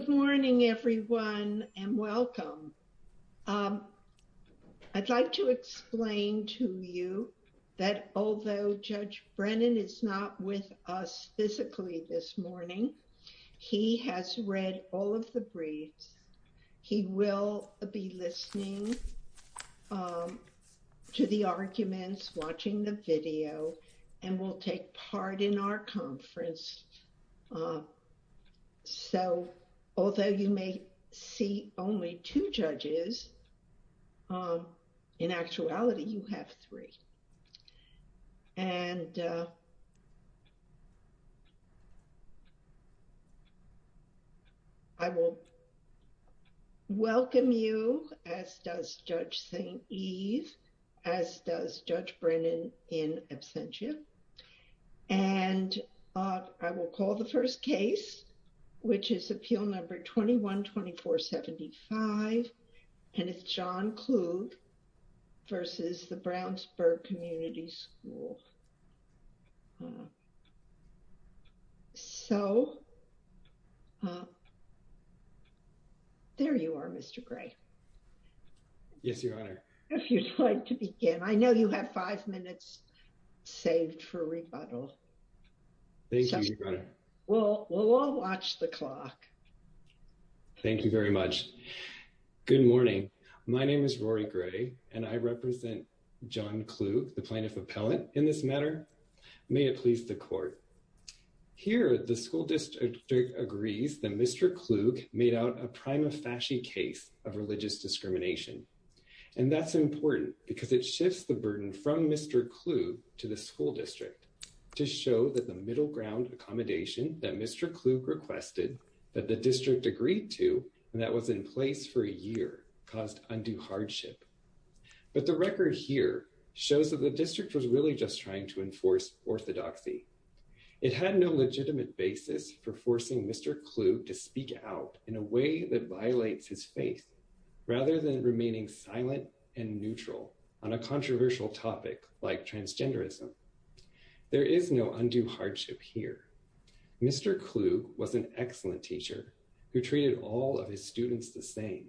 Good morning everyone and welcome. I'd like to explain to you that although Judge Brennan is not with us physically this morning, he has read all of the briefs. He will be listening to the arguments, watching the video, and will take part in our conference. So although you may see only two judges, in actuality you have three. And I will welcome you, as does Judge Eve, as does Judge Brennan in absentia. And I will call the first case, which is appeal number 21-2475. And it's John Kluge versus the Brownsburg Community School. So there you are, Mr. Gray. Yes, Your Honor. If you'd like to begin. I know you have five minutes saved for rebuttal. Thank you, Your Honor. Well, we'll all watch the clock. Thank you very much. Good morning. My name is Rory Gray and I represent John Kluge, the plaintiff appellant, in this matter. May it please the court. Here, the school district agrees that Mr. Kluge made out a prima facie case of religious discrimination. And that's important because it shifts the burden from Mr. Kluge to the school district agreed to, and that was in place for a year, caused undue hardship. But the record here shows that the district was really just trying to enforce orthodoxy. It had no legitimate basis for forcing Mr. Kluge to speak out in a way that violates his faith, rather than remaining silent and neutral on a controversial topic like transgenderism. There is no undue hardship here. Mr. Kluge was an excellent teacher who treated all of his students the same.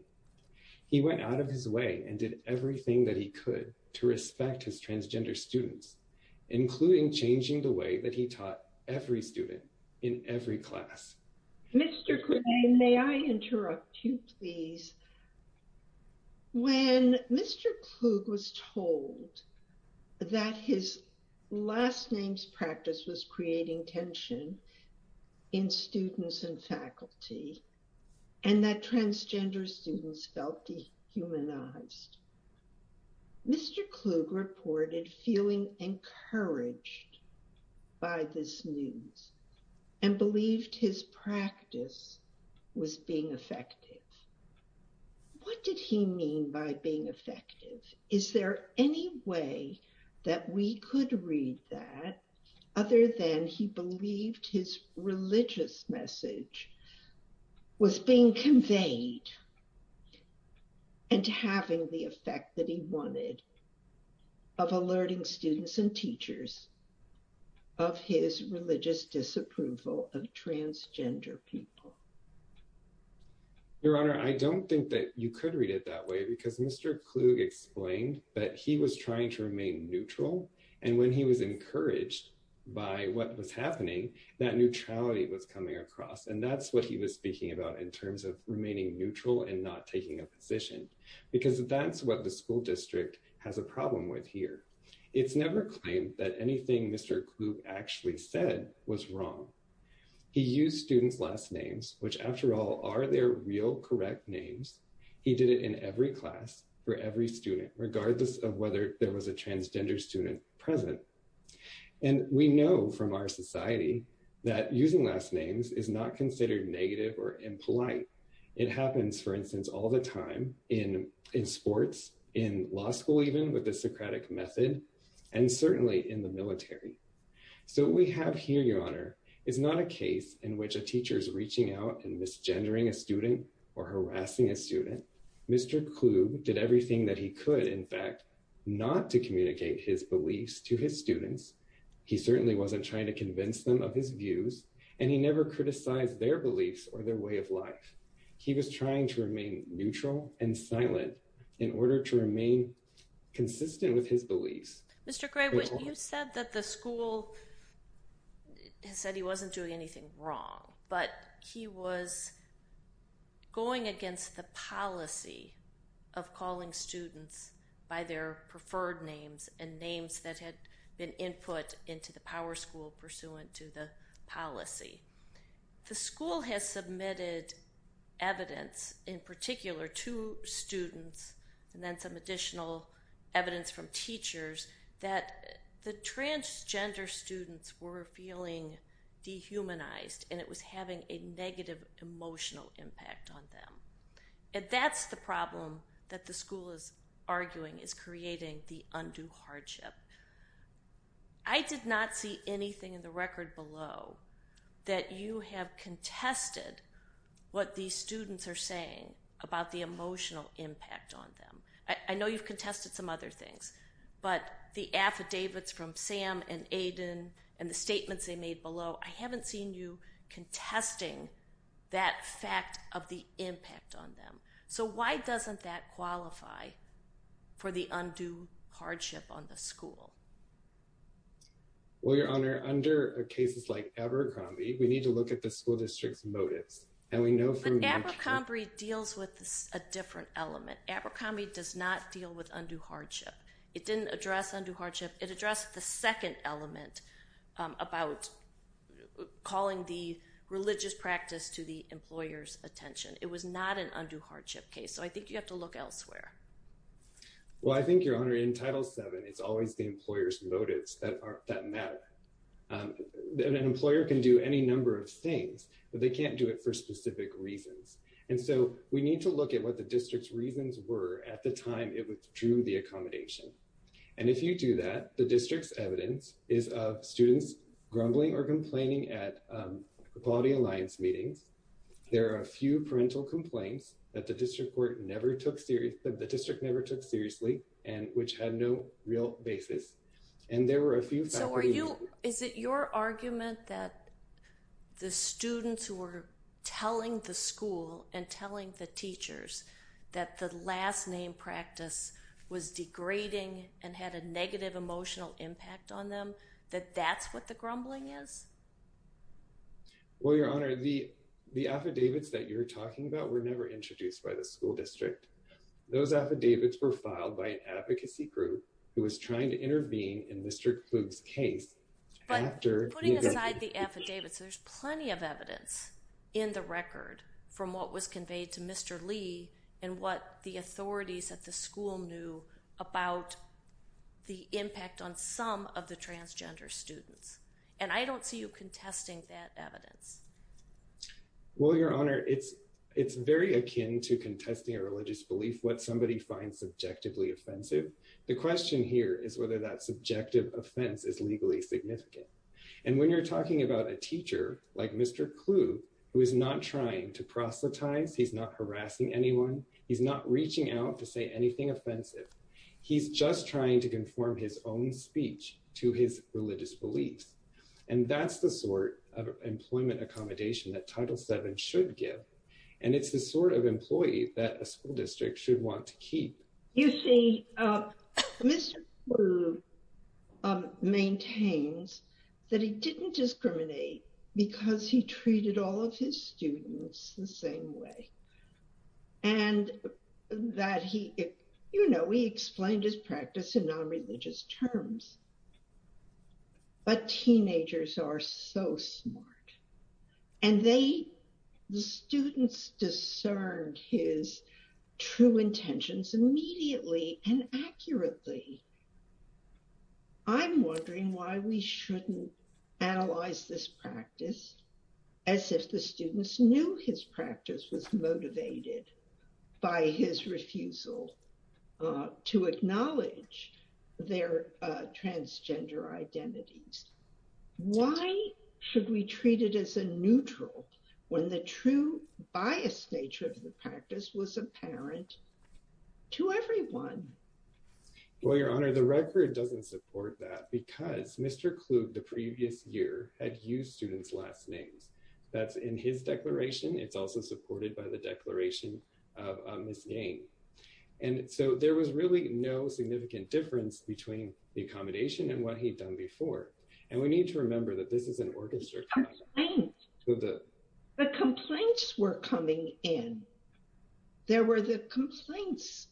He went out of his way and did everything that he could to respect his transgender students, including changing the way that he taught every student in every class. Mr. Kluge, may I interrupt you, please? When Mr. Kluge was told that his last name's practice was creating tension in students and faculty, and that transgender students felt dehumanized, Mr. Kluge reported feeling encouraged by this news and believed his practice was being effective. What did he mean by being effective? Is there any way that we could read that, other than he believed his religious message was being conveyed and having the effect that he wanted of alerting students and teachers of his religious disapproval of transgender people? Your Honor, I don't think that you could read it that way, because Mr. Kluge explained that he was trying to remain neutral, and when he was encouraged by what was happening, that neutrality was coming across, and that's what he was speaking about in terms of remaining neutral and not taking a position, because that's what the school district has a problem with here. It's never that anything Mr. Kluge actually said was wrong. He used students' last names, which, after all, are their real correct names. He did it in every class for every student, regardless of whether there was a transgender student present, and we know from our society that using last names is not considered negative or impolite. It happens, for instance, all the time in sports, in law and in the military. So, what we have here, Your Honor, is not a case in which a teacher is reaching out and misgendering a student or harassing a student. Mr. Kluge did everything that he could, in fact, not to communicate his beliefs to his students. He certainly wasn't trying to convince them of his views, and he never criticized their beliefs or their way of life. He was trying to remain neutral and silent in order to remain consistent with his beliefs. Mr. Gray, you said that the school said he wasn't doing anything wrong, but he was going against the policy of calling students by their preferred names and names that had been input into the power school pursuant to the policy. The school has submitted evidence, in particular, to students, and then some additional evidence from teachers, that the transgender students were feeling dehumanized, and it was having a negative emotional impact on them. That's the problem that the school is arguing, is creating the I did not see anything in the record below that you have contested what these students are saying about the emotional impact on them. I know you've contested some other things, but the affidavits from Sam and Aiden and the statements they made below, I haven't seen you contesting that fact of the impact on them. So, why doesn't that qualify for the undue hardship on the school? Well, Your Honor, under cases like Abercrombie, we need to look at the school district's motives. Abercrombie deals with a different element. Abercrombie does not deal with undue hardship. It didn't address undue hardship. It addressed the second element about calling the religious practice to the employer's attention. It was not an undue hardship case, so I think you have to look elsewhere. Well, I think, Your Honor, in Title VII, it's always the employer's motives that matter. An employer can do any number of things, but they can't do it for specific reasons. And so, we need to look at what the district's reasons were at the time it withdrew the accommodation. And if you do that, the district's evidence is of students grumbling or complaining at Equality Alliance meetings. There are a few parental complaints that the district never took seriously and which had no real basis. So, is it your argument that the students who were telling the school and telling the teachers that the last name practice was degrading and had a negative emotional impact on them, that that's what the grumbling is? Well, Your Honor, the affidavits that you're talking about were never introduced by the school district. Those affidavits were made by an advocacy group who was trying to intervene in Mr. Kluge's case. But putting aside the affidavits, there's plenty of evidence in the record from what was conveyed to Mr. Lee and what the authorities at the school knew about the impact on some of the transgender students. And I don't see you contesting that evidence. Well, Your Honor, it's very akin to contesting a religious belief. What somebody finds subjectively offensive, the question here is whether that subjective offense is legally significant. And when you're talking about a teacher like Mr. Kluge, who is not trying to proselytize, he's not harassing anyone, he's not reaching out to say anything offensive, he's just trying to conform his own speech to his religious beliefs. And that's the sort of employment accommodation that Title VII should give. And it's the sort of employee that a school district should want to keep. You see, Mr. Kluge maintains that he didn't discriminate because he treated all of his students the same way. And that he, you know, he explained his practice in non-religious terms. But teenagers are so smart. And they, the students discerned his true intentions immediately and accurately. I'm wondering why we shouldn't analyze this practice as if the students knew his practice was motivated by his refusal to acknowledge their transgender identities. Why should we treat it as a neutral when the true biased nature of the practice was apparent to everyone? Well, Your Honor, the record doesn't support that because Mr. Kluge the previous year had used students' last names. That's in his declaration. It's also supported by the declaration of Ms. Yang. And so there was really no significant difference between the accommodation and what he'd done before. And we need to remember that this is an orchestra. The complaints were coming in. There were the complaints,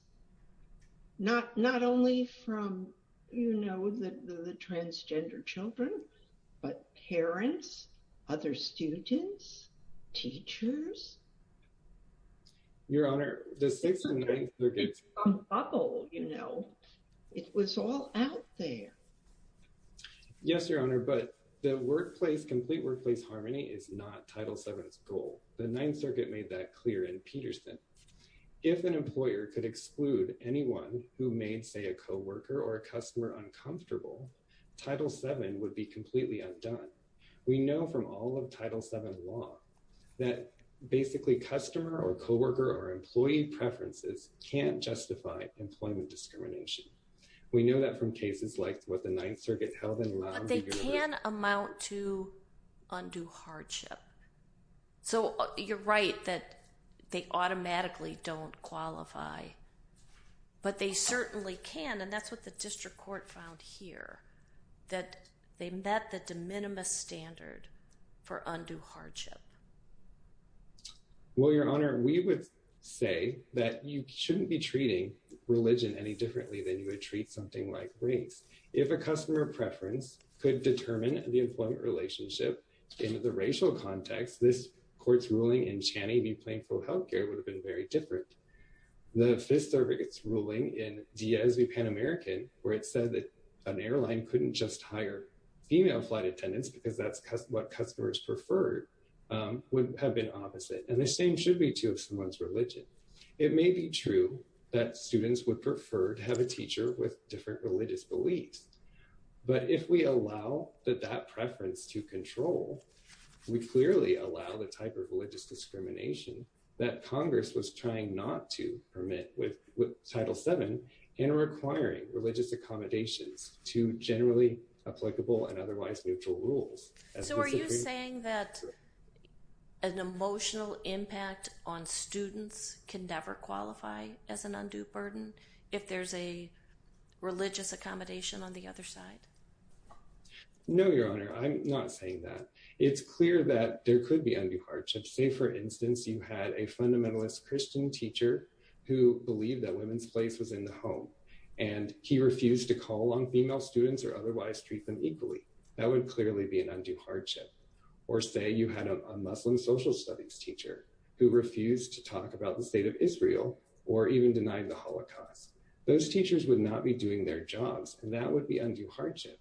not only from, you know, the transgender children, but parents, other students, teachers. Your Honor, the Sixth and Ninth Circuits. It was all out there. Yes, Your Honor, but the workplace, complete workplace harmony is not Title VII's goal. The Ninth Circuit made that clear in Peterson. If an employer could exclude anyone who made, say, a co-worker or a customer uncomfortable, Title VII would be completely undone. We know from all of Title VII law that basically customer or co-worker or employee preferences can't justify employment discrimination. We know that from cases like what the Ninth Circuit held in Long Beach. But they can amount to undue hardship. So you're right that they automatically don't qualify, but they certainly can. And that's what the district court found here, that they met the de minimis standard for undue hardship. Well, Your Honor, we would say that you shouldn't be treating religion any differently than you would treat something like race. If a customer preference could determine the employment relationship in the racial context, this court's ruling in Cheney v. Plainfield Healthcare would have been very different. The Fifth Circuit's ruling in Diaz v. Pan American, where it said that an airline couldn't just hire female flight attendants because that's what customers preferred, would have been opposite. And the same should be true of someone's religion. It may be true that students would prefer to have a teacher with different religious beliefs. But if we allow that preference to control, we clearly allow the type of religious discrimination that Congress was trying not to permit with Title VII in requiring religious accommodations to generally applicable and otherwise neutral rules. So are you saying that an emotional impact on students can never qualify as an undue burden if there's a religious accommodation on the other side? No, Your Honor, I'm not saying that. It's clear that there could be undue hardship. Say, for instance, you had a fundamentalist Christian teacher who believed that women's place was in the home, and he refused to call on female students or otherwise treat them equally. That would clearly be an undue hardship. Or say you had a Muslim social studies teacher who refused to talk about the state of Israel or even denied the Holocaust. Those teachers would not be doing their jobs, and that would be undue hardship.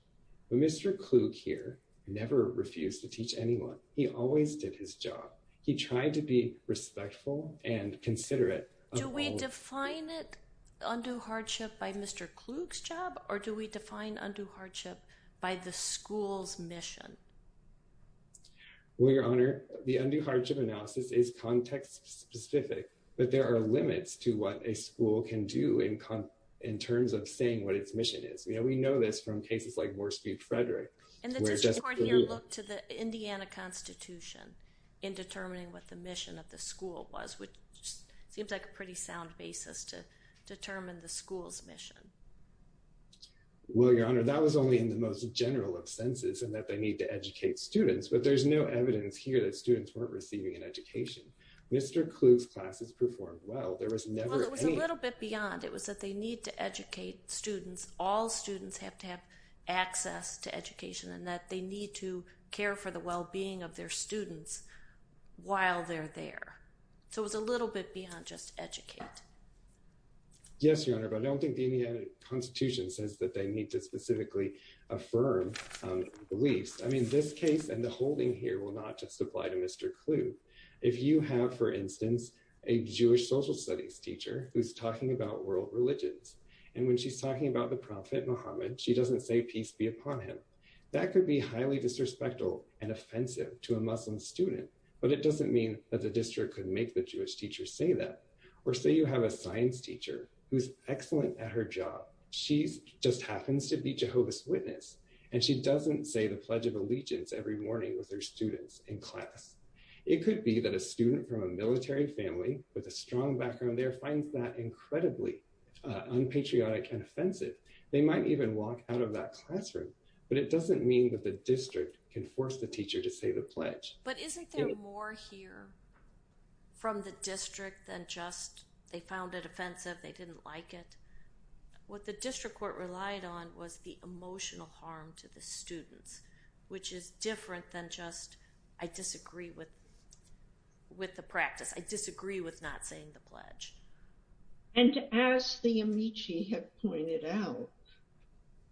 But Mr. Klug here never refused to teach anyone. He always did his job. He tried to be respectful and considerate. Do we define it undue hardship by Mr. Klug's job, or do we define undue hardship by the school's mission? Well, Your Honor, the undue hardship analysis is context specific, but there are limits to what a school can do in terms of saying what its mission is. We know this from cases like the Constitution in determining what the mission of the school was, which seems like a pretty sound basis to determine the school's mission. Well, Your Honor, that was only in the most general of senses, in that they need to educate students. But there's no evidence here that students weren't receiving an education. Mr. Klug's classes performed well. There was never any— Well, it was a little bit beyond. It was that they need to educate students. All students have to access to education, and that they need to care for the well-being of their students while they're there. So it was a little bit beyond just educate. Yes, Your Honor, but I don't think the Indiana Constitution says that they need to specifically affirm beliefs. I mean, this case and the holding here will not just apply to Mr. Klug. If you have, for instance, a Jewish social studies teacher who's talking about world religions, and when she's talking about the Prophet Muhammad, she doesn't say, Peace be upon him. That could be highly disrespectful and offensive to a Muslim student, but it doesn't mean that the district could make the Jewish teacher say that. Or say you have a science teacher who's excellent at her job. She just happens to be Jehovah's Witness, and she doesn't say the Pledge of Allegiance every morning with her students in class. It could be that a student from a military family with a strong background there finds that patriotic and offensive. They might even walk out of that classroom, but it doesn't mean that the district can force the teacher to say the pledge. But isn't there more here from the district than just they found it offensive, they didn't like it? What the district court relied on was the emotional harm to the students, which is different than just, I disagree with the practice. I disagree with not saying the pledge. And as the Amici have pointed out,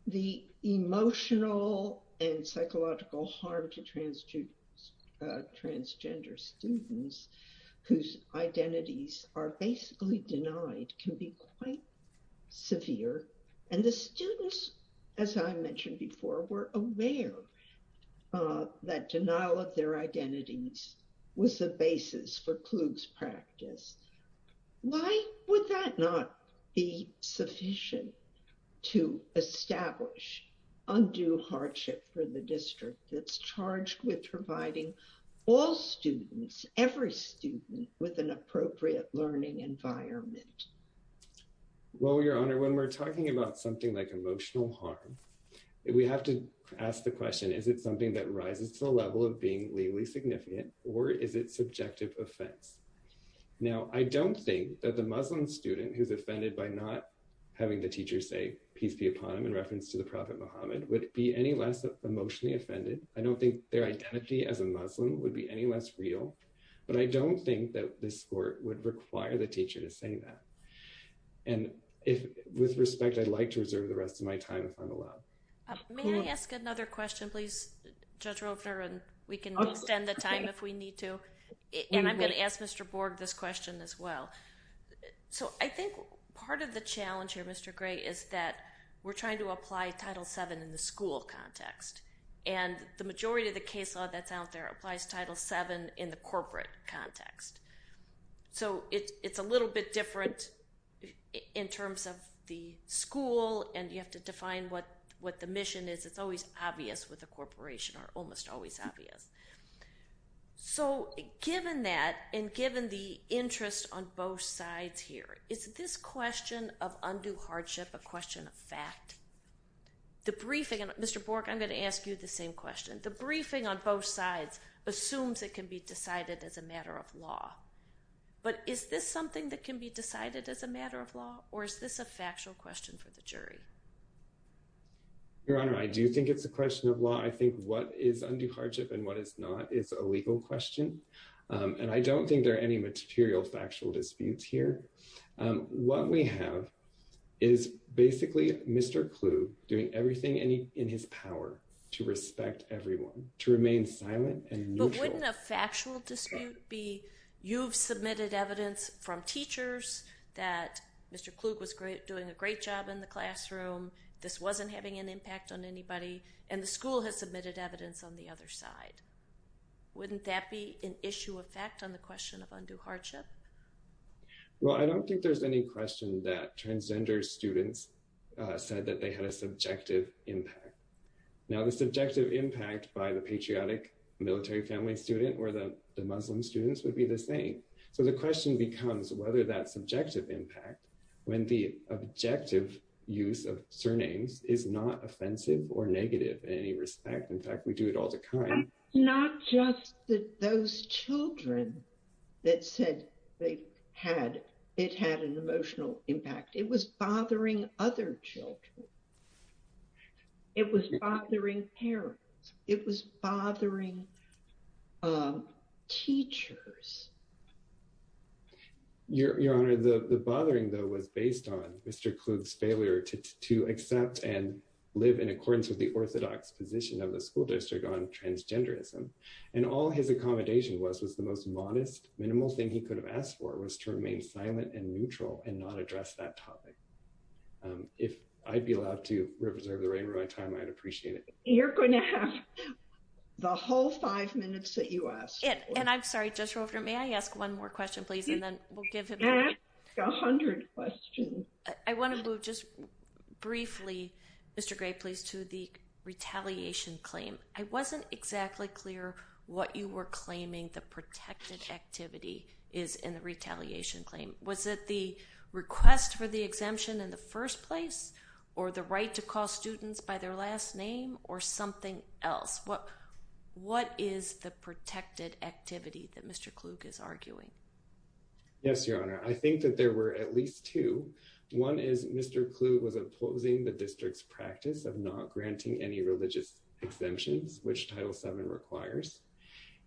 the emotional and psychological harm to transgender students whose identities are basically denied can be quite severe. And the students, as I mentioned before, were aware that denial of their identities was the basis for Kluge's practice. Why would that not be sufficient to establish undue hardship for the district that's charged with providing all students, every student, with an appropriate learning environment? Well, Your Honor, when we're talking about something like emotional harm, we have to ask the question, is it something that rises to the level of being legally significant, or is it subjective offense? Now, I don't think that the Muslim student who's offended by not having the teacher say, peace be upon him, in reference to the Prophet Muhammad, would be any less emotionally offended. I don't think their identity as a Muslim would be any less real. But I don't think that this court would require the teacher to say that. And with respect, I'd like to reserve the rest of my time if I'm allowed. May I ask another question, please, Judge Roper? And we can extend the time if we need to. And I'm going to ask Mr. Borg this question as well. So I think part of the challenge here, Mr. Gray, is that we're trying to apply Title VII in the school context. And the majority of the case law that's out there applies Title VII in the corporate context. So it's a little bit different in terms of the school, and you have to define what the mission is. It's always obvious with a corporation, or almost always obvious. So given that, and given the interest on both sides here, is this question of undue hardship a question of fact? The briefing, and Mr. Borg, I'm going to ask you the same question. The briefing on both sides assumes it can be decided as a matter of law. But is this something that can be decided as a matter of law, or is this a factual question for the jury? Your Honor, I do think it's a question of law. I think what is undue hardship and what is not is a legal question. And I don't think there are any material factual disputes here. What we have is basically Mr. Kluge doing everything in his power to respect everyone, to remain silent and neutral. But wouldn't a factual dispute be you've submitted evidence from teachers that Mr. Kluge was great doing a great job in the classroom, this wasn't having an impact on anybody, and the school has submitted evidence on the other side. Wouldn't that be an issue of fact on the question of undue hardship? Well, I don't think there's any question that transgender students said that they had a subjective impact. Now the subjective impact by the patriotic military family student or the Muslim students would be the same. So the question becomes whether that subjective impact, when the objective use of surnames is not offensive or negative in any respect. In fact, we do it all the time. Not just that those children that said they had, it had an other children. It was bothering parents, it was bothering teachers. Your Honor, the bothering though was based on Mr. Kluge's failure to accept and live in accordance with the orthodox position of the school district on transgenderism. And all his accommodation was was the most modest, minimal thing he could have asked for was to remain silent and neutral and not address that topic. If I'd be allowed to reserve the remainder of my time, I'd appreciate it. You're going to have the whole five minutes that you ask. And I'm sorry, Judge Roper, may I ask one more question, please? And then we'll give him a hundred questions. I want to move just briefly, Mr. Gray, please, to the retaliation claim. I wasn't exactly clear what you were claiming the protected activity is in the retaliation claim. Was it the request for the exemption in the first place or the right to call students by their last name or something else? What is the protected activity that Mr. Kluge is arguing? Yes, Your Honor. I think that there were at least two. One is Mr. Kluge was opposing the district's not granting any religious exemptions, which Title VII requires.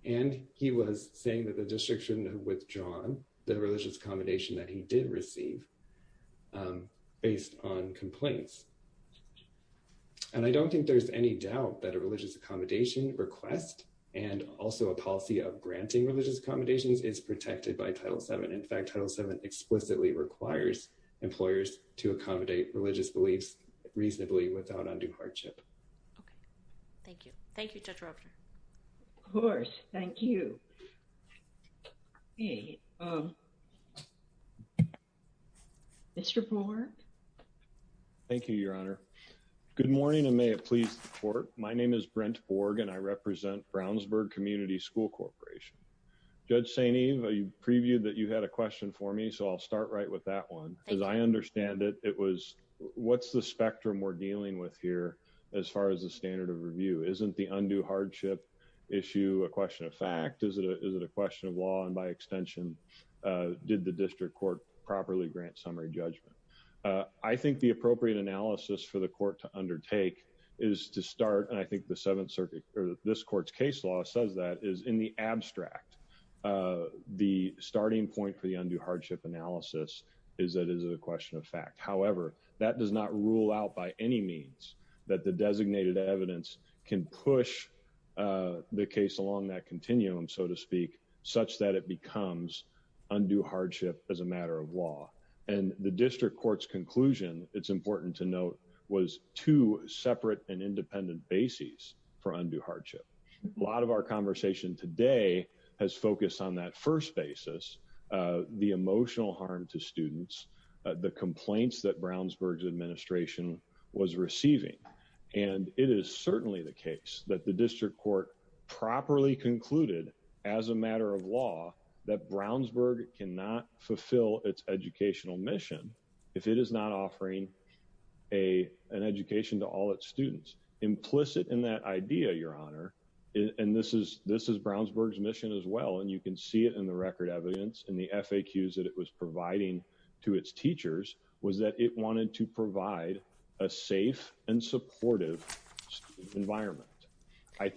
And he was saying that the district shouldn't have withdrawn the religious accommodation that he did receive based on complaints. And I don't think there's any doubt that a religious accommodation request and also a policy of granting religious accommodations is protected by Title VII. In fact, Title VII explicitly requires employers to accommodate religious beliefs reasonably without undue hardship. Thank you. Thank you, Judge Roper. Of course. Thank you. Mr. Borg? Thank you, Your Honor. Good morning and may it please the Court. My name is Brent Borg and I represent Brownsburg Community School Corporation. Judge St. Eve, you previewed that you had a question for me, so I'll start right with that one because I understand it. It was what's the spectrum we're dealing with here as far as the standard of review? Isn't the undue hardship issue a question of fact? Is it a question of law? And by extension, did the district court properly grant summary judgment? I think the appropriate analysis for the court to undertake is to start and I think the Seventh Circuit or this court's case law says that is in the abstract. The starting point for the undue hardship analysis is that it is a question of fact. However, that does not rule out by any means that the designated evidence can push the case along that continuum, so to speak, such that it becomes undue hardship as a matter of law. And the district court's conclusion, it's important to note, was two separate and independent bases for undue hardship. Our conversation today has focused on that first basis, the emotional harm to students, the complaints that Brownsburg's administration was receiving, and it is certainly the case that the district court properly concluded as a matter of law that Brownsburg cannot fulfill its educational mission if it is not offering an education to all its students. Implicit in that idea, Your Honor, and this is Brownsburg's mission as well, and you can see it in the record evidence in the FAQs that it was providing to its teachers, was that it wanted to provide a safe and supportive environment.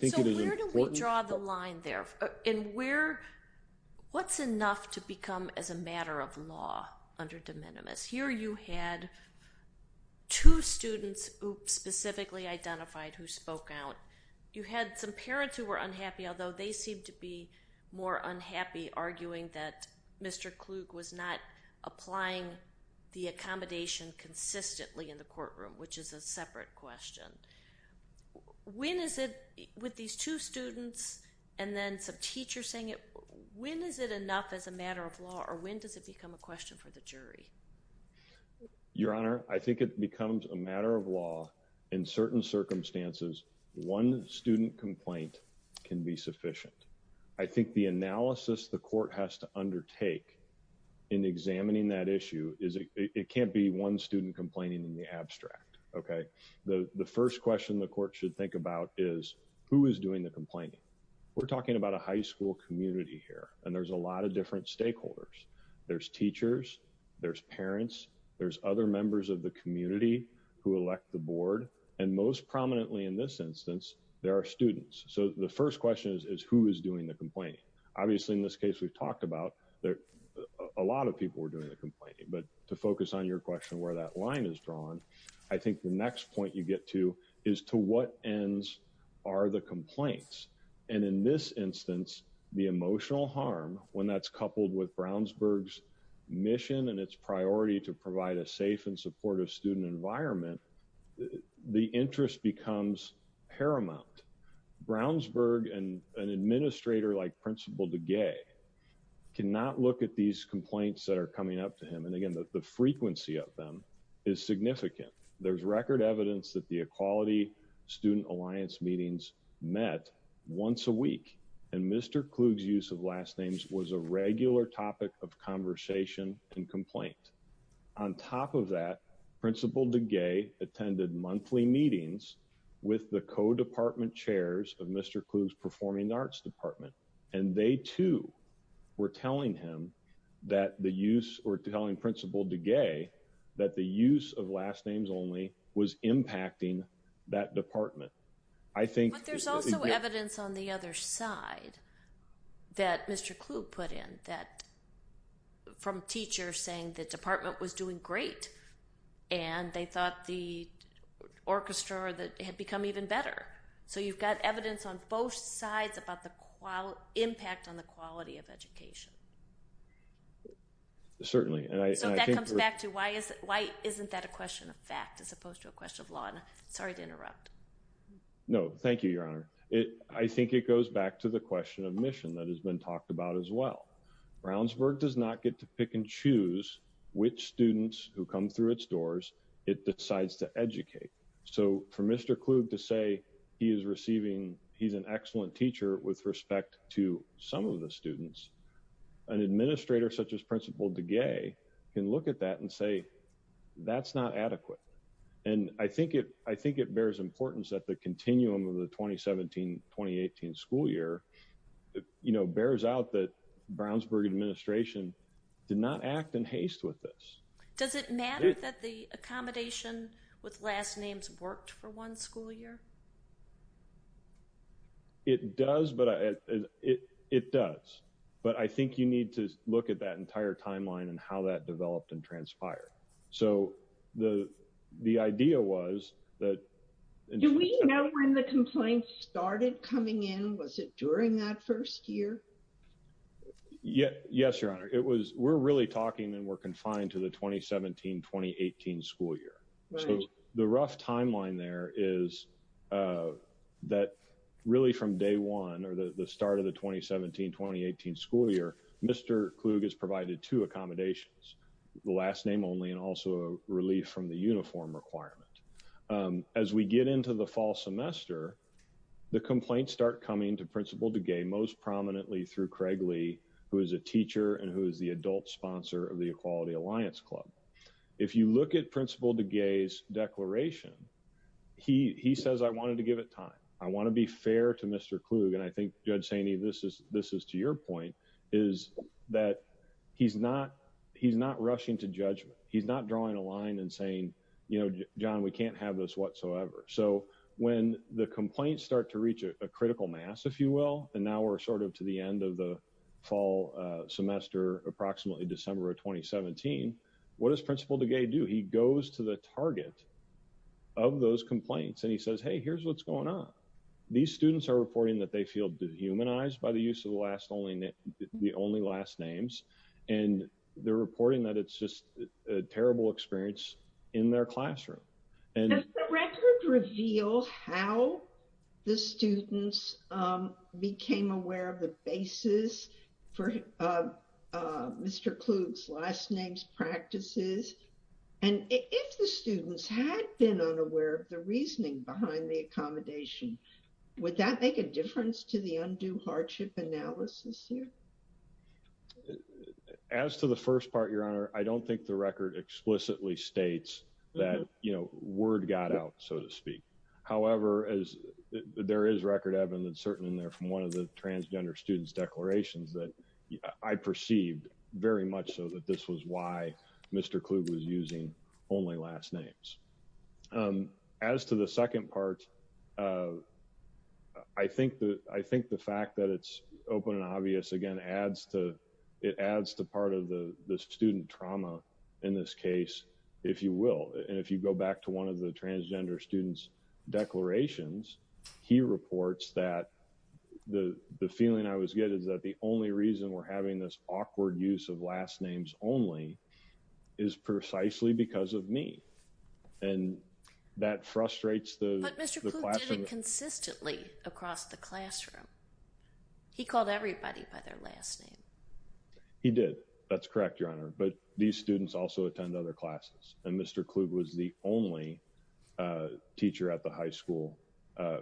So where do we draw the line there? What's enough to become as a matter of law under de minimis? Here you had two students who specifically identified who spoke out. You had some parents who were unhappy, although they seemed to be more unhappy, arguing that Mr. Klug was not applying the accommodation consistently in the courtroom, which is a separate question. When is it, with these two students and then some teachers saying it, when is it enough as a matter of law or when does it become a question for the jury? Your Honor, I think it becomes a matter of law. In certain circumstances, one student complaint can be sufficient. I think the analysis the court has to undertake in examining that issue is it can't be one student complaining in the abstract. Okay, the first question the court should think about is who is doing the complaining. We're talking about a high school community here, and there's a lot of different stakeholders. There's teachers, there's parents, there's other members of the community who elect the board, and most prominently in this instance, there are students. So the first question is who is doing the complaining? Obviously in this case we've talked about a lot of people were doing the complaining, but to focus on your question where that line is drawn, I think the next point you get to is to what ends are the complaints? And in this instance, the emotional harm when that's coupled with Brownsburg's mission and its priority to provide a safe and supportive student environment, the interest becomes paramount. Brownsburg and an administrator like Principal DeGay cannot look at these complaints that are coming up to him, and again the frequency of them is significant. There's record evidence that the Equality Student Alliance meetings met once a week, and Mr. Klug's use of last names was a regular topic of conversation and complaint. On top of that, Principal DeGay attended monthly meetings with the co-department chairs of Mr. Klug's Performing Arts Department, and they too were telling him that the use or telling Principal DeGay that the use of last names only was impacting that department. But there's also evidence on the other side that Mr. Klug put in that from teachers saying the department was doing great, and they thought the orchestra had become even better. So you've got evidence on both sides about the impact on the quality of education. Certainly. So that comes back to why isn't that a question of fact as opposed to a question of law? Sorry to interrupt. No, thank you, Your Honor. I think it goes back to the question of mission that has been talked about as well. Brownsburg does not get to pick and choose which students who come through its doors it decides to educate. So for Mr. Klug to say he is receiving, he's an DeGay can look at that and say that's not adequate. And I think it bears importance that the continuum of the 2017-2018 school year bears out that Brownsburg administration did not act in haste with this. Does it matter that the accommodation with last names worked for one school year? It does. But I think you need to look at that entire timeline and how that developed and transpired. So the idea was that... Do we know when the complaint started coming in? Was it during that first year? Yes, Your Honor. We're really talking and we're confined to the 2017-2018 school year. So the rough timeline there is that really from day one or the start of the 2017-2018 school year, Mr. Klug has provided two accommodations, the last name only and also relief from the uniform requirement. As we get into the fall semester, the complaints start coming to Principal DeGay, most prominently through Craig Lee, who is a teacher and who is the adult sponsor of the DeGay's declaration. He says, I wanted to give it time. I want to be fair to Mr. Klug. And I think Judge Saini, this is to your point, is that he's not rushing to judgment. He's not drawing a line and saying, John, we can't have this whatsoever. So when the complaints start to reach a critical mass, if you will, and now we're sort of to the end of the fall semester, approximately December 2017, what does Principal DeGay do? He goes to the target of those complaints and he says, hey, here's what's going on. These students are reporting that they feel dehumanized by the use of the only last names. And they're reporting that it's just a terrible experience in their classroom. Does the record reveal how the students became aware of the basis for Mr. Klug's last names practices? And if the students had been unaware of the reasoning behind the accommodation, would that make a difference to the undue hardship analysis here? As to the first part, Your Honor, I don't think the record explicitly states that word got out, so to speak. However, there is record evidence certainly in there from one of the transgender students' declarations that I perceived very much so that this was why Mr. Klug was using only last names. As to the second part, I think the fact that it's open and obvious, again, it adds to part of the student trauma in this case, if you will. And if you go back to one of the transgender students' declarations, he reports that the feeling I was getting is that the only reason we're having this awkward use of last names only is precisely because of me. And that frustrates the classroom. But Mr. Klug did it consistently across the class. He called everybody by their last name. He did. That's correct, Your Honor. But these students also attend other classes. And Mr. Klug was the only teacher at the high school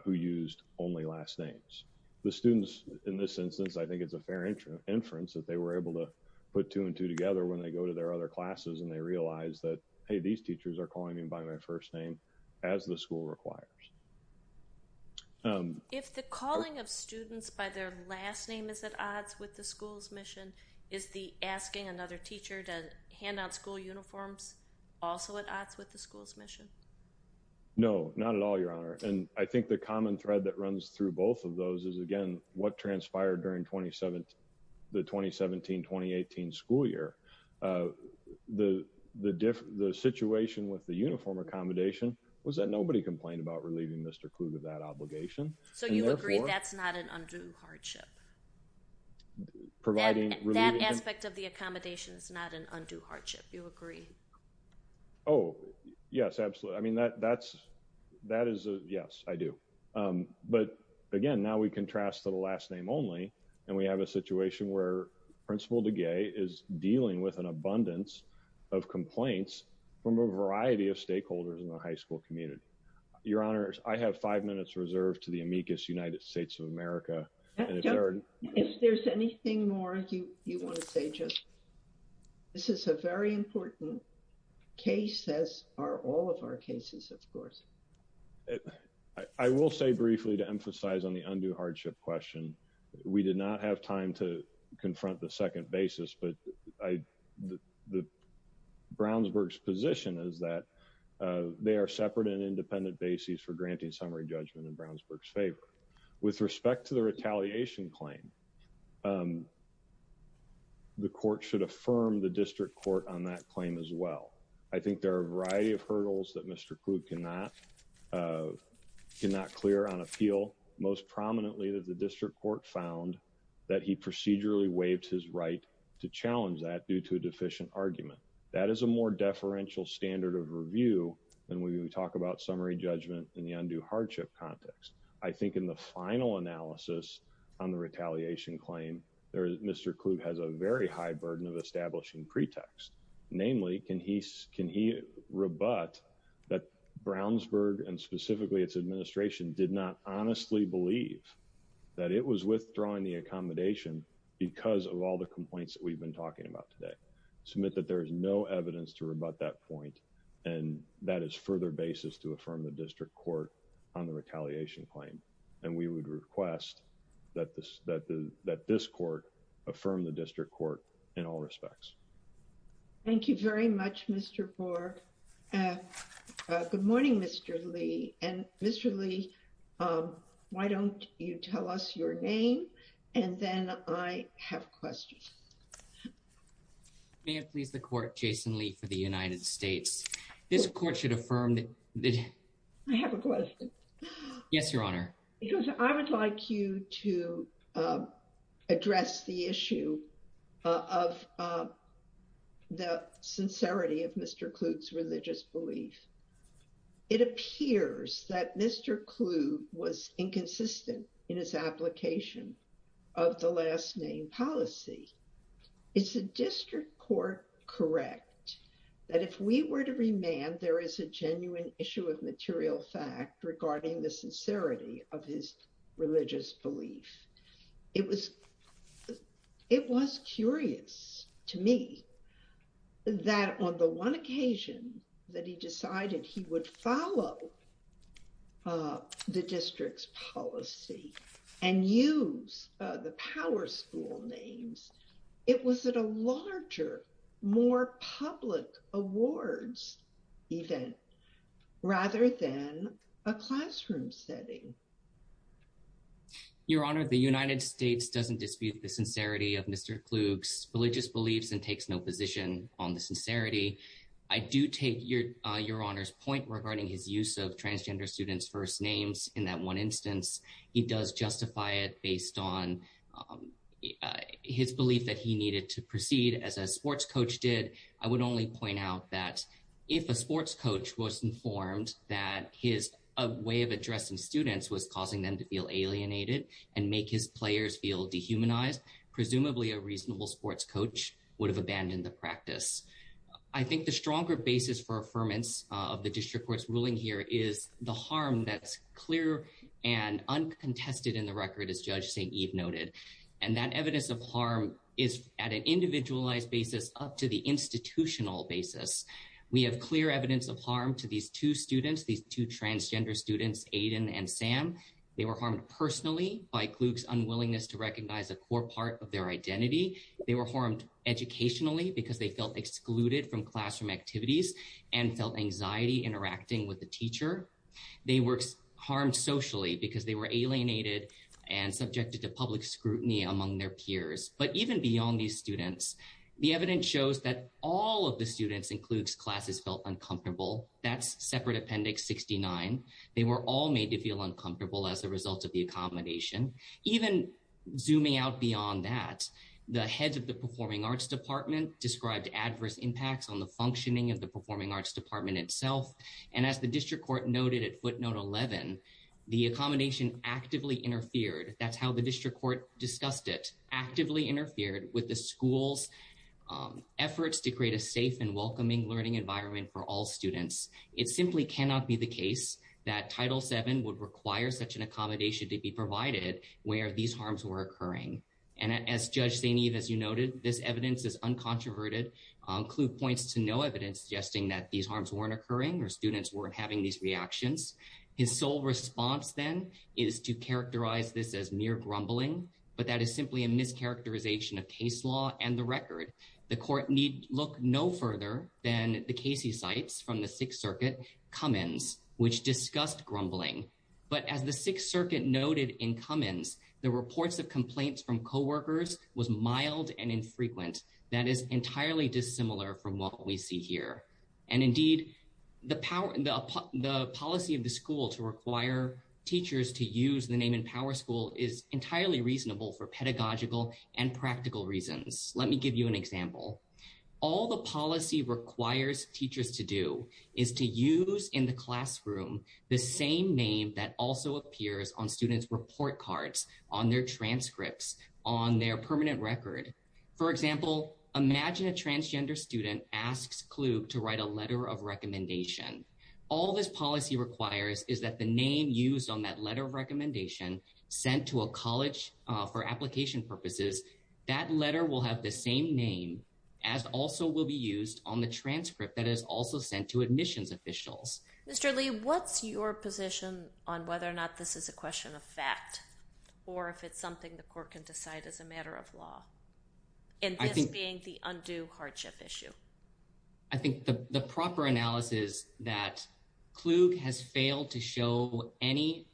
who used only last names. The students, in this instance, I think it's a fair inference that they were able to put two and two together when they go to their other classes and they realize that, hey, these teachers are calling me by my first name as the school requires. If the calling of students by their last name is at odds with the school's mission, is the asking another teacher to hand out school uniforms also at odds with the school's mission? No, not at all, Your Honor. And I think the common thread that runs through both of those is, again, what transpired during the 2017-2018 school year. The situation with the uniform accommodation was that nobody complained about relieving Mr. Klug of that obligation. So you agree that's not an undue hardship? That aspect of the accommodation is not an undue hardship, you agree? Oh, yes, absolutely. I mean, that is a yes, I do. But, again, now we contrast to the last name only. And we have a situation where Principal DeGay is dealing with an abundance of complaints from a variety of stakeholders in the high school community. Your Honor, I have five minutes reserved to the amicus United States of America. If there's anything more you want to say, just this is a very important case, as are all of our cases, of course. I will say briefly to emphasize on the undue hardship question, we did not have time to confront the second basis, but Brownsburg's position is that they are separate and independent bases for granting summary judgment in Brownsburg's favor. With respect to the retaliation claim, the court should affirm the district court on that claim as well. I think there are a variety of hurdles that Mr. Klug cannot clear on appeal. Most prominently that the district court found that he procedurally waived his right to challenge that due to a deficient argument. That is a more deferential standard of review than when we talk about summary judgment in the undue hardship context. I think in the final analysis on the retaliation claim, Mr. Klug has a very high burden of establishing pretext. Namely, can he rebut that Brownsburg and specifically its administration did not honestly believe that it was withdrawing the accommodation because of all the complaints that we've been talking about today? Submit that there is no evidence to rebut that point, and that is further basis to affirm the district court on the retaliation claim. And we would request that this court affirm the district court in all respects. Thank you very much, Mr. Borg. Good morning, Mr. Lee. And Mr. Lee, why don't you tell us your name? And then I have questions. May it please the court, Jason Lee for the United States. This court should affirm that I have a addressed the issue of the sincerity of Mr. Klug's religious belief. It appears that Mr. Klug was inconsistent in his application of the last name policy. Is the district court correct that if we were to remand, there is a genuine issue of material fact regarding the sincerity of his religious belief? It was curious to me that on the one occasion that he decided he would follow the district's policy and use the power school names, it was at a larger, more public awards event rather than a classroom setting. Your Honor, the United States doesn't dispute the sincerity of Mr. Klug's religious beliefs and takes no position on the sincerity. I do take Your Honor's point regarding his use of transgender students' first names in that one instance. He does justify it based on his belief that he needed to proceed as a sports coach did. I would only point out that if a sports coach was informed that his way of addressing students was causing them to feel alienated and make his players feel dehumanized, presumably a reasonable sports coach would have abandoned the practice. I think the stronger basis for affirmance of the district court's ruling here is the harm that's clear and uncontested in the record as Judge St. Eve noted. That evidence of harm is at an individualized basis up to the institutional basis. We have clear evidence of harm to these two students, these two transgender students, Aiden and Sam. They were harmed personally by Klug's unwillingness to recognize a core part of their identity. They were harmed educationally because they felt excluded from classroom activities and felt anxiety interacting with the teacher. They were harmed socially because they were alienated and subjected to public scrutiny among their peers. But even beyond these students, the evidence shows that all of the students in Klug's classes felt uncomfortable. That's separate appendix 69. They were all made to feel uncomfortable as a result of the accommodation. Even zooming out beyond that, the heads of the performing arts department described adverse impacts on the functioning of the performing arts department itself. And as the district court noted at footnote 11, the accommodation actively interfered. That's how the district court discussed it, actively interfered with the school's efforts to create a safe and welcoming learning environment for all students. It simply cannot be the case that Title VII would require such an accommodation to be provided where these harms were occurring. And as Judge St. Eve, as you noted, this evidence is uncontroverted. Klug points to no evidence suggesting that these harms weren't the cause of these reactions. His sole response then is to characterize this as mere grumbling. But that is simply a mischaracterization of case law and the record. The court need look no further than the Casey cites from the Sixth Circuit, Cummins, which discussed grumbling. But as the Sixth Circuit noted in Cummins, the reports of complaints from co-workers was mild and infrequent. That is policy of the school to require teachers to use the name in power school is entirely reasonable for pedagogical and practical reasons. Let me give you an example. All the policy requires teachers to do is to use in the classroom the same name that also appears on students' report cards, on their transcripts, on their permanent record. For example, imagine a transgender student asks Klug to write a letter of recommendation. All this policy requires is that the name used on that letter of recommendation sent to a college for application purposes, that letter will have the same name as also will be used on the transcript that is also sent to admissions officials. Mr. Lee, what's your position on whether or not this is a question of fact, or if it's something the court can decide as a matter of law? And this being the undue hardship issue. I think the proper analysis that Klug has failed to show any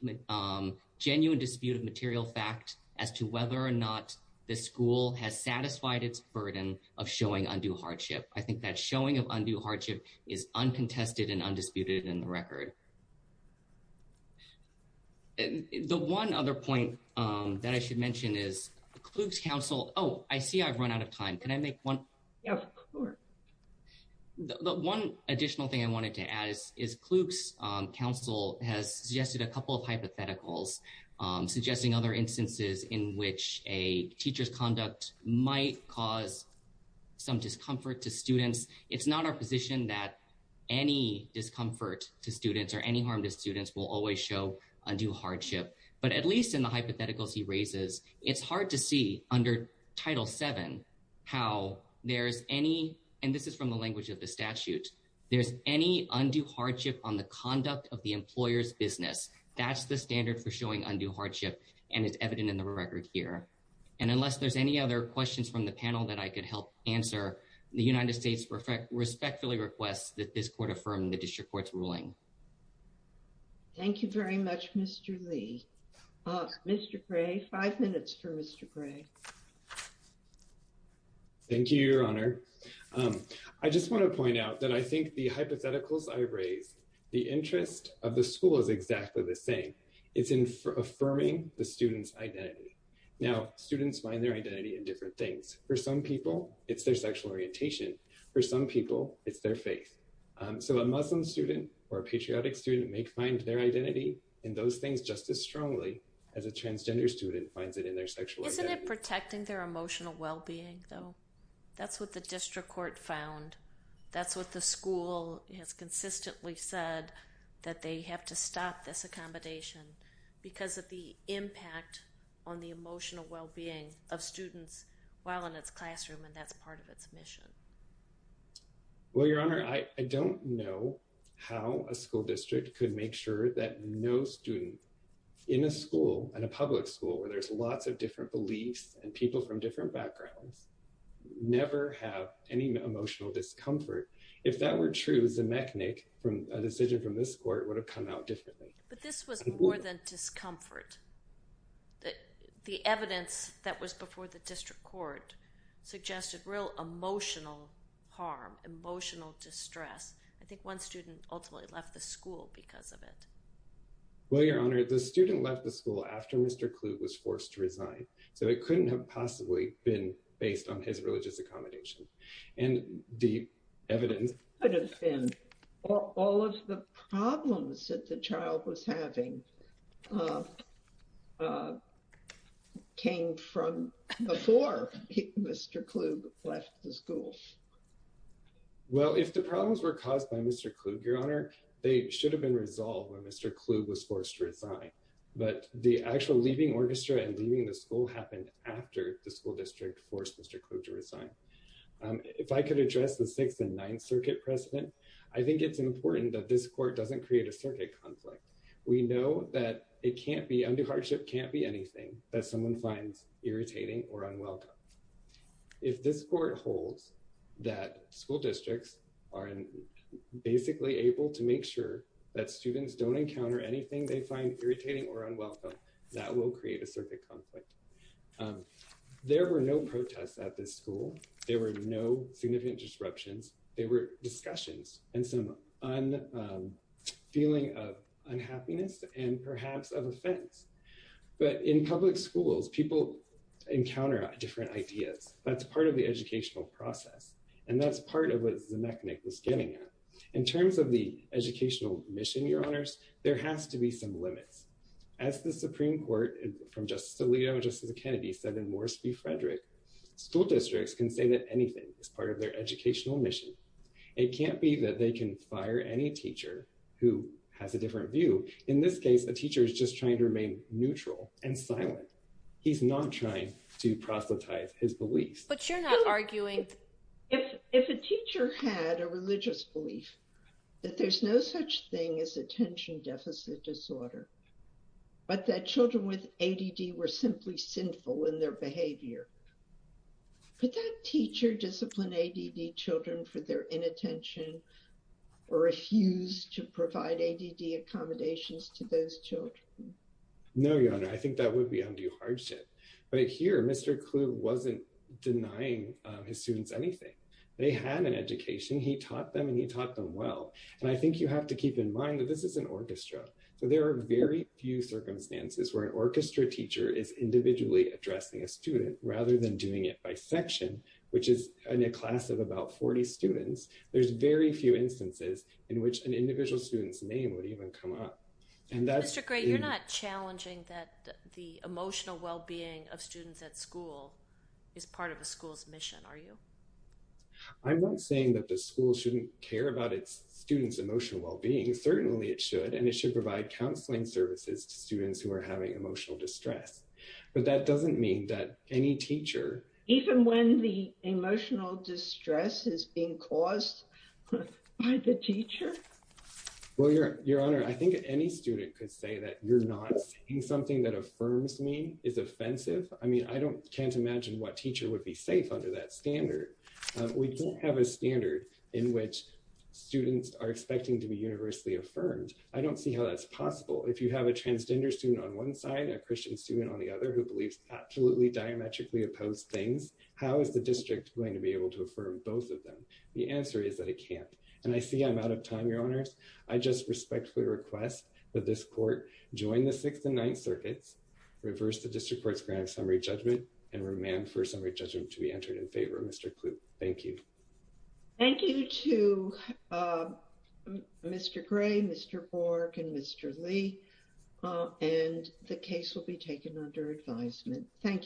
genuine dispute of material fact as to whether or not the school has satisfied its burden of showing undue hardship. I think that showing of undue hardship is uncontested and undisputed in the record. The one other point that I should mention is Klug's counsel. Oh, I see I've run out of time. Can I make one? Yeah, sure. The one additional thing I wanted to add is Klug's counsel has suggested a couple of hypotheticals suggesting other instances in which a teacher's conduct might cause some discomfort to students. It's not our position that any discomfort to students or any harm to students will always show undue hardship. But at least in the hypotheticals he raises, it's hard to see under Title VII how there's any, and this is from the language of the statute, there's any undue hardship on the conduct of the employer's business. That's the standard for showing undue hardship, and it's evident in the record here. And unless there's any other questions from the panel that I could help answer, the United States respectfully requests that this court affirm the district court's ruling. Thank you very much, Mr. Lee. Mr. Gray, five minutes for Mr. Gray. Thank you, Your Honor. I just want to point out that I think the hypotheticals I raised, the interest of the school is exactly the same. It's in affirming the student's identity. Now, for some people, it's their sexual orientation. For some people, it's their faith. So a Muslim student or a patriotic student may find their identity in those things just as strongly as a transgender student finds it in their sexual identity. Isn't it protecting their emotional well-being, though? That's what the district court found. That's what the school has consistently said, that they have to stop this accommodation because of the impact on the emotional well-being of students while in its classroom, and that's part of its mission. Well, Your Honor, I don't know how a school district could make sure that no student in a school, in a public school, where there's lots of different beliefs and people from different backgrounds, never have any emotional discomfort. If that were true, Zemechnik, a decision from this court, would have come out differently. But this was more than discomfort. The evidence that was before the district court suggested real emotional harm, emotional distress. I think one student ultimately left the school because of it. Well, Your Honor, the student left the school after Mr. Kluge was forced to resign, so it couldn't have possibly been based on his religious accommodation. And the evidence could have been all of the problems that the child was having came from before Mr. Kluge left the school. Well, if the problems were caused by Mr. Kluge, Your Honor, they should have been resolved when Mr. Kluge was forced to resign. But the actual leaving orchestra and leaving the school happened after the school district forced Mr. Kluge to resign. I think it's important that this court doesn't create a circuit conflict. We know that it can't be, undue hardship can't be anything that someone finds irritating or unwelcome. If this court holds that school districts are basically able to make sure that students don't encounter anything they find irritating or unwelcome, that will create a circuit conflict. There were no protests at this school. There were no significant disruptions. They were discussions and some feeling of unhappiness and perhaps of offense. But in public schools, people encounter different ideas. That's part of the educational process. And that's part of what Zemechnik was getting at. In terms of the educational mission, Your Honors, there has to be some limits. As the Supreme Court from Justice DeLeo and Justice Kennedy said in Morris v. Frederick, school districts can say that anything is part of their educational mission. It can't be that they can fire any teacher who has a different view. In this case, a teacher is just trying to remain neutral and silent. He's not trying to proselytize his beliefs. But you're not arguing. If a teacher had a religious belief that there's no such thing as attention deficit disorder, but that children with ADD were simply sinful in their behavior, could that teacher discipline ADD children for their inattention or refuse to provide ADD accommodations to those children? No, Your Honor. I think that would be undue hardship. But here, Mr. Kluge wasn't denying his students anything. They had an education. He taught them and he taught them well. And I think you have to keep in mind that this is an orchestra. So there are very few than doing it by section, which is a class of about 40 students. There's very few instances in which an individual student's name would even come up. Mr. Gray, you're not challenging that the emotional well-being of students at school is part of a school's mission, are you? I'm not saying that the school shouldn't care about its students' emotional well-being. Certainly it should. And it should provide counseling services to students who are having emotional distress. But that doesn't mean that any teacher... Even when the emotional distress is being caused by the teacher? Well, Your Honor, I think any student could say that you're not saying something that affirms me is offensive. I mean, I can't imagine what teacher would be safe under that standard. We don't have a standard in which students are expecting to be universally affirmed. I don't see how that's possible. If you have a transgender student on one side, a Christian student on the other, who believes absolutely diametrically opposed things, how is the district going to be able to affirm both of them? The answer is that it can't. And I see I'm out of time, Your Honors. I just respectfully request that this court join the Sixth and Ninth Circuits, reverse the district court's grant of summary judgment, and remand for summary judgment to be entered in favor. Mr. Klug, thank you. Thank you to Mr. Gray, Mr. Bork, and Mr. Lee. And the case will be taken under advisement. Thank you.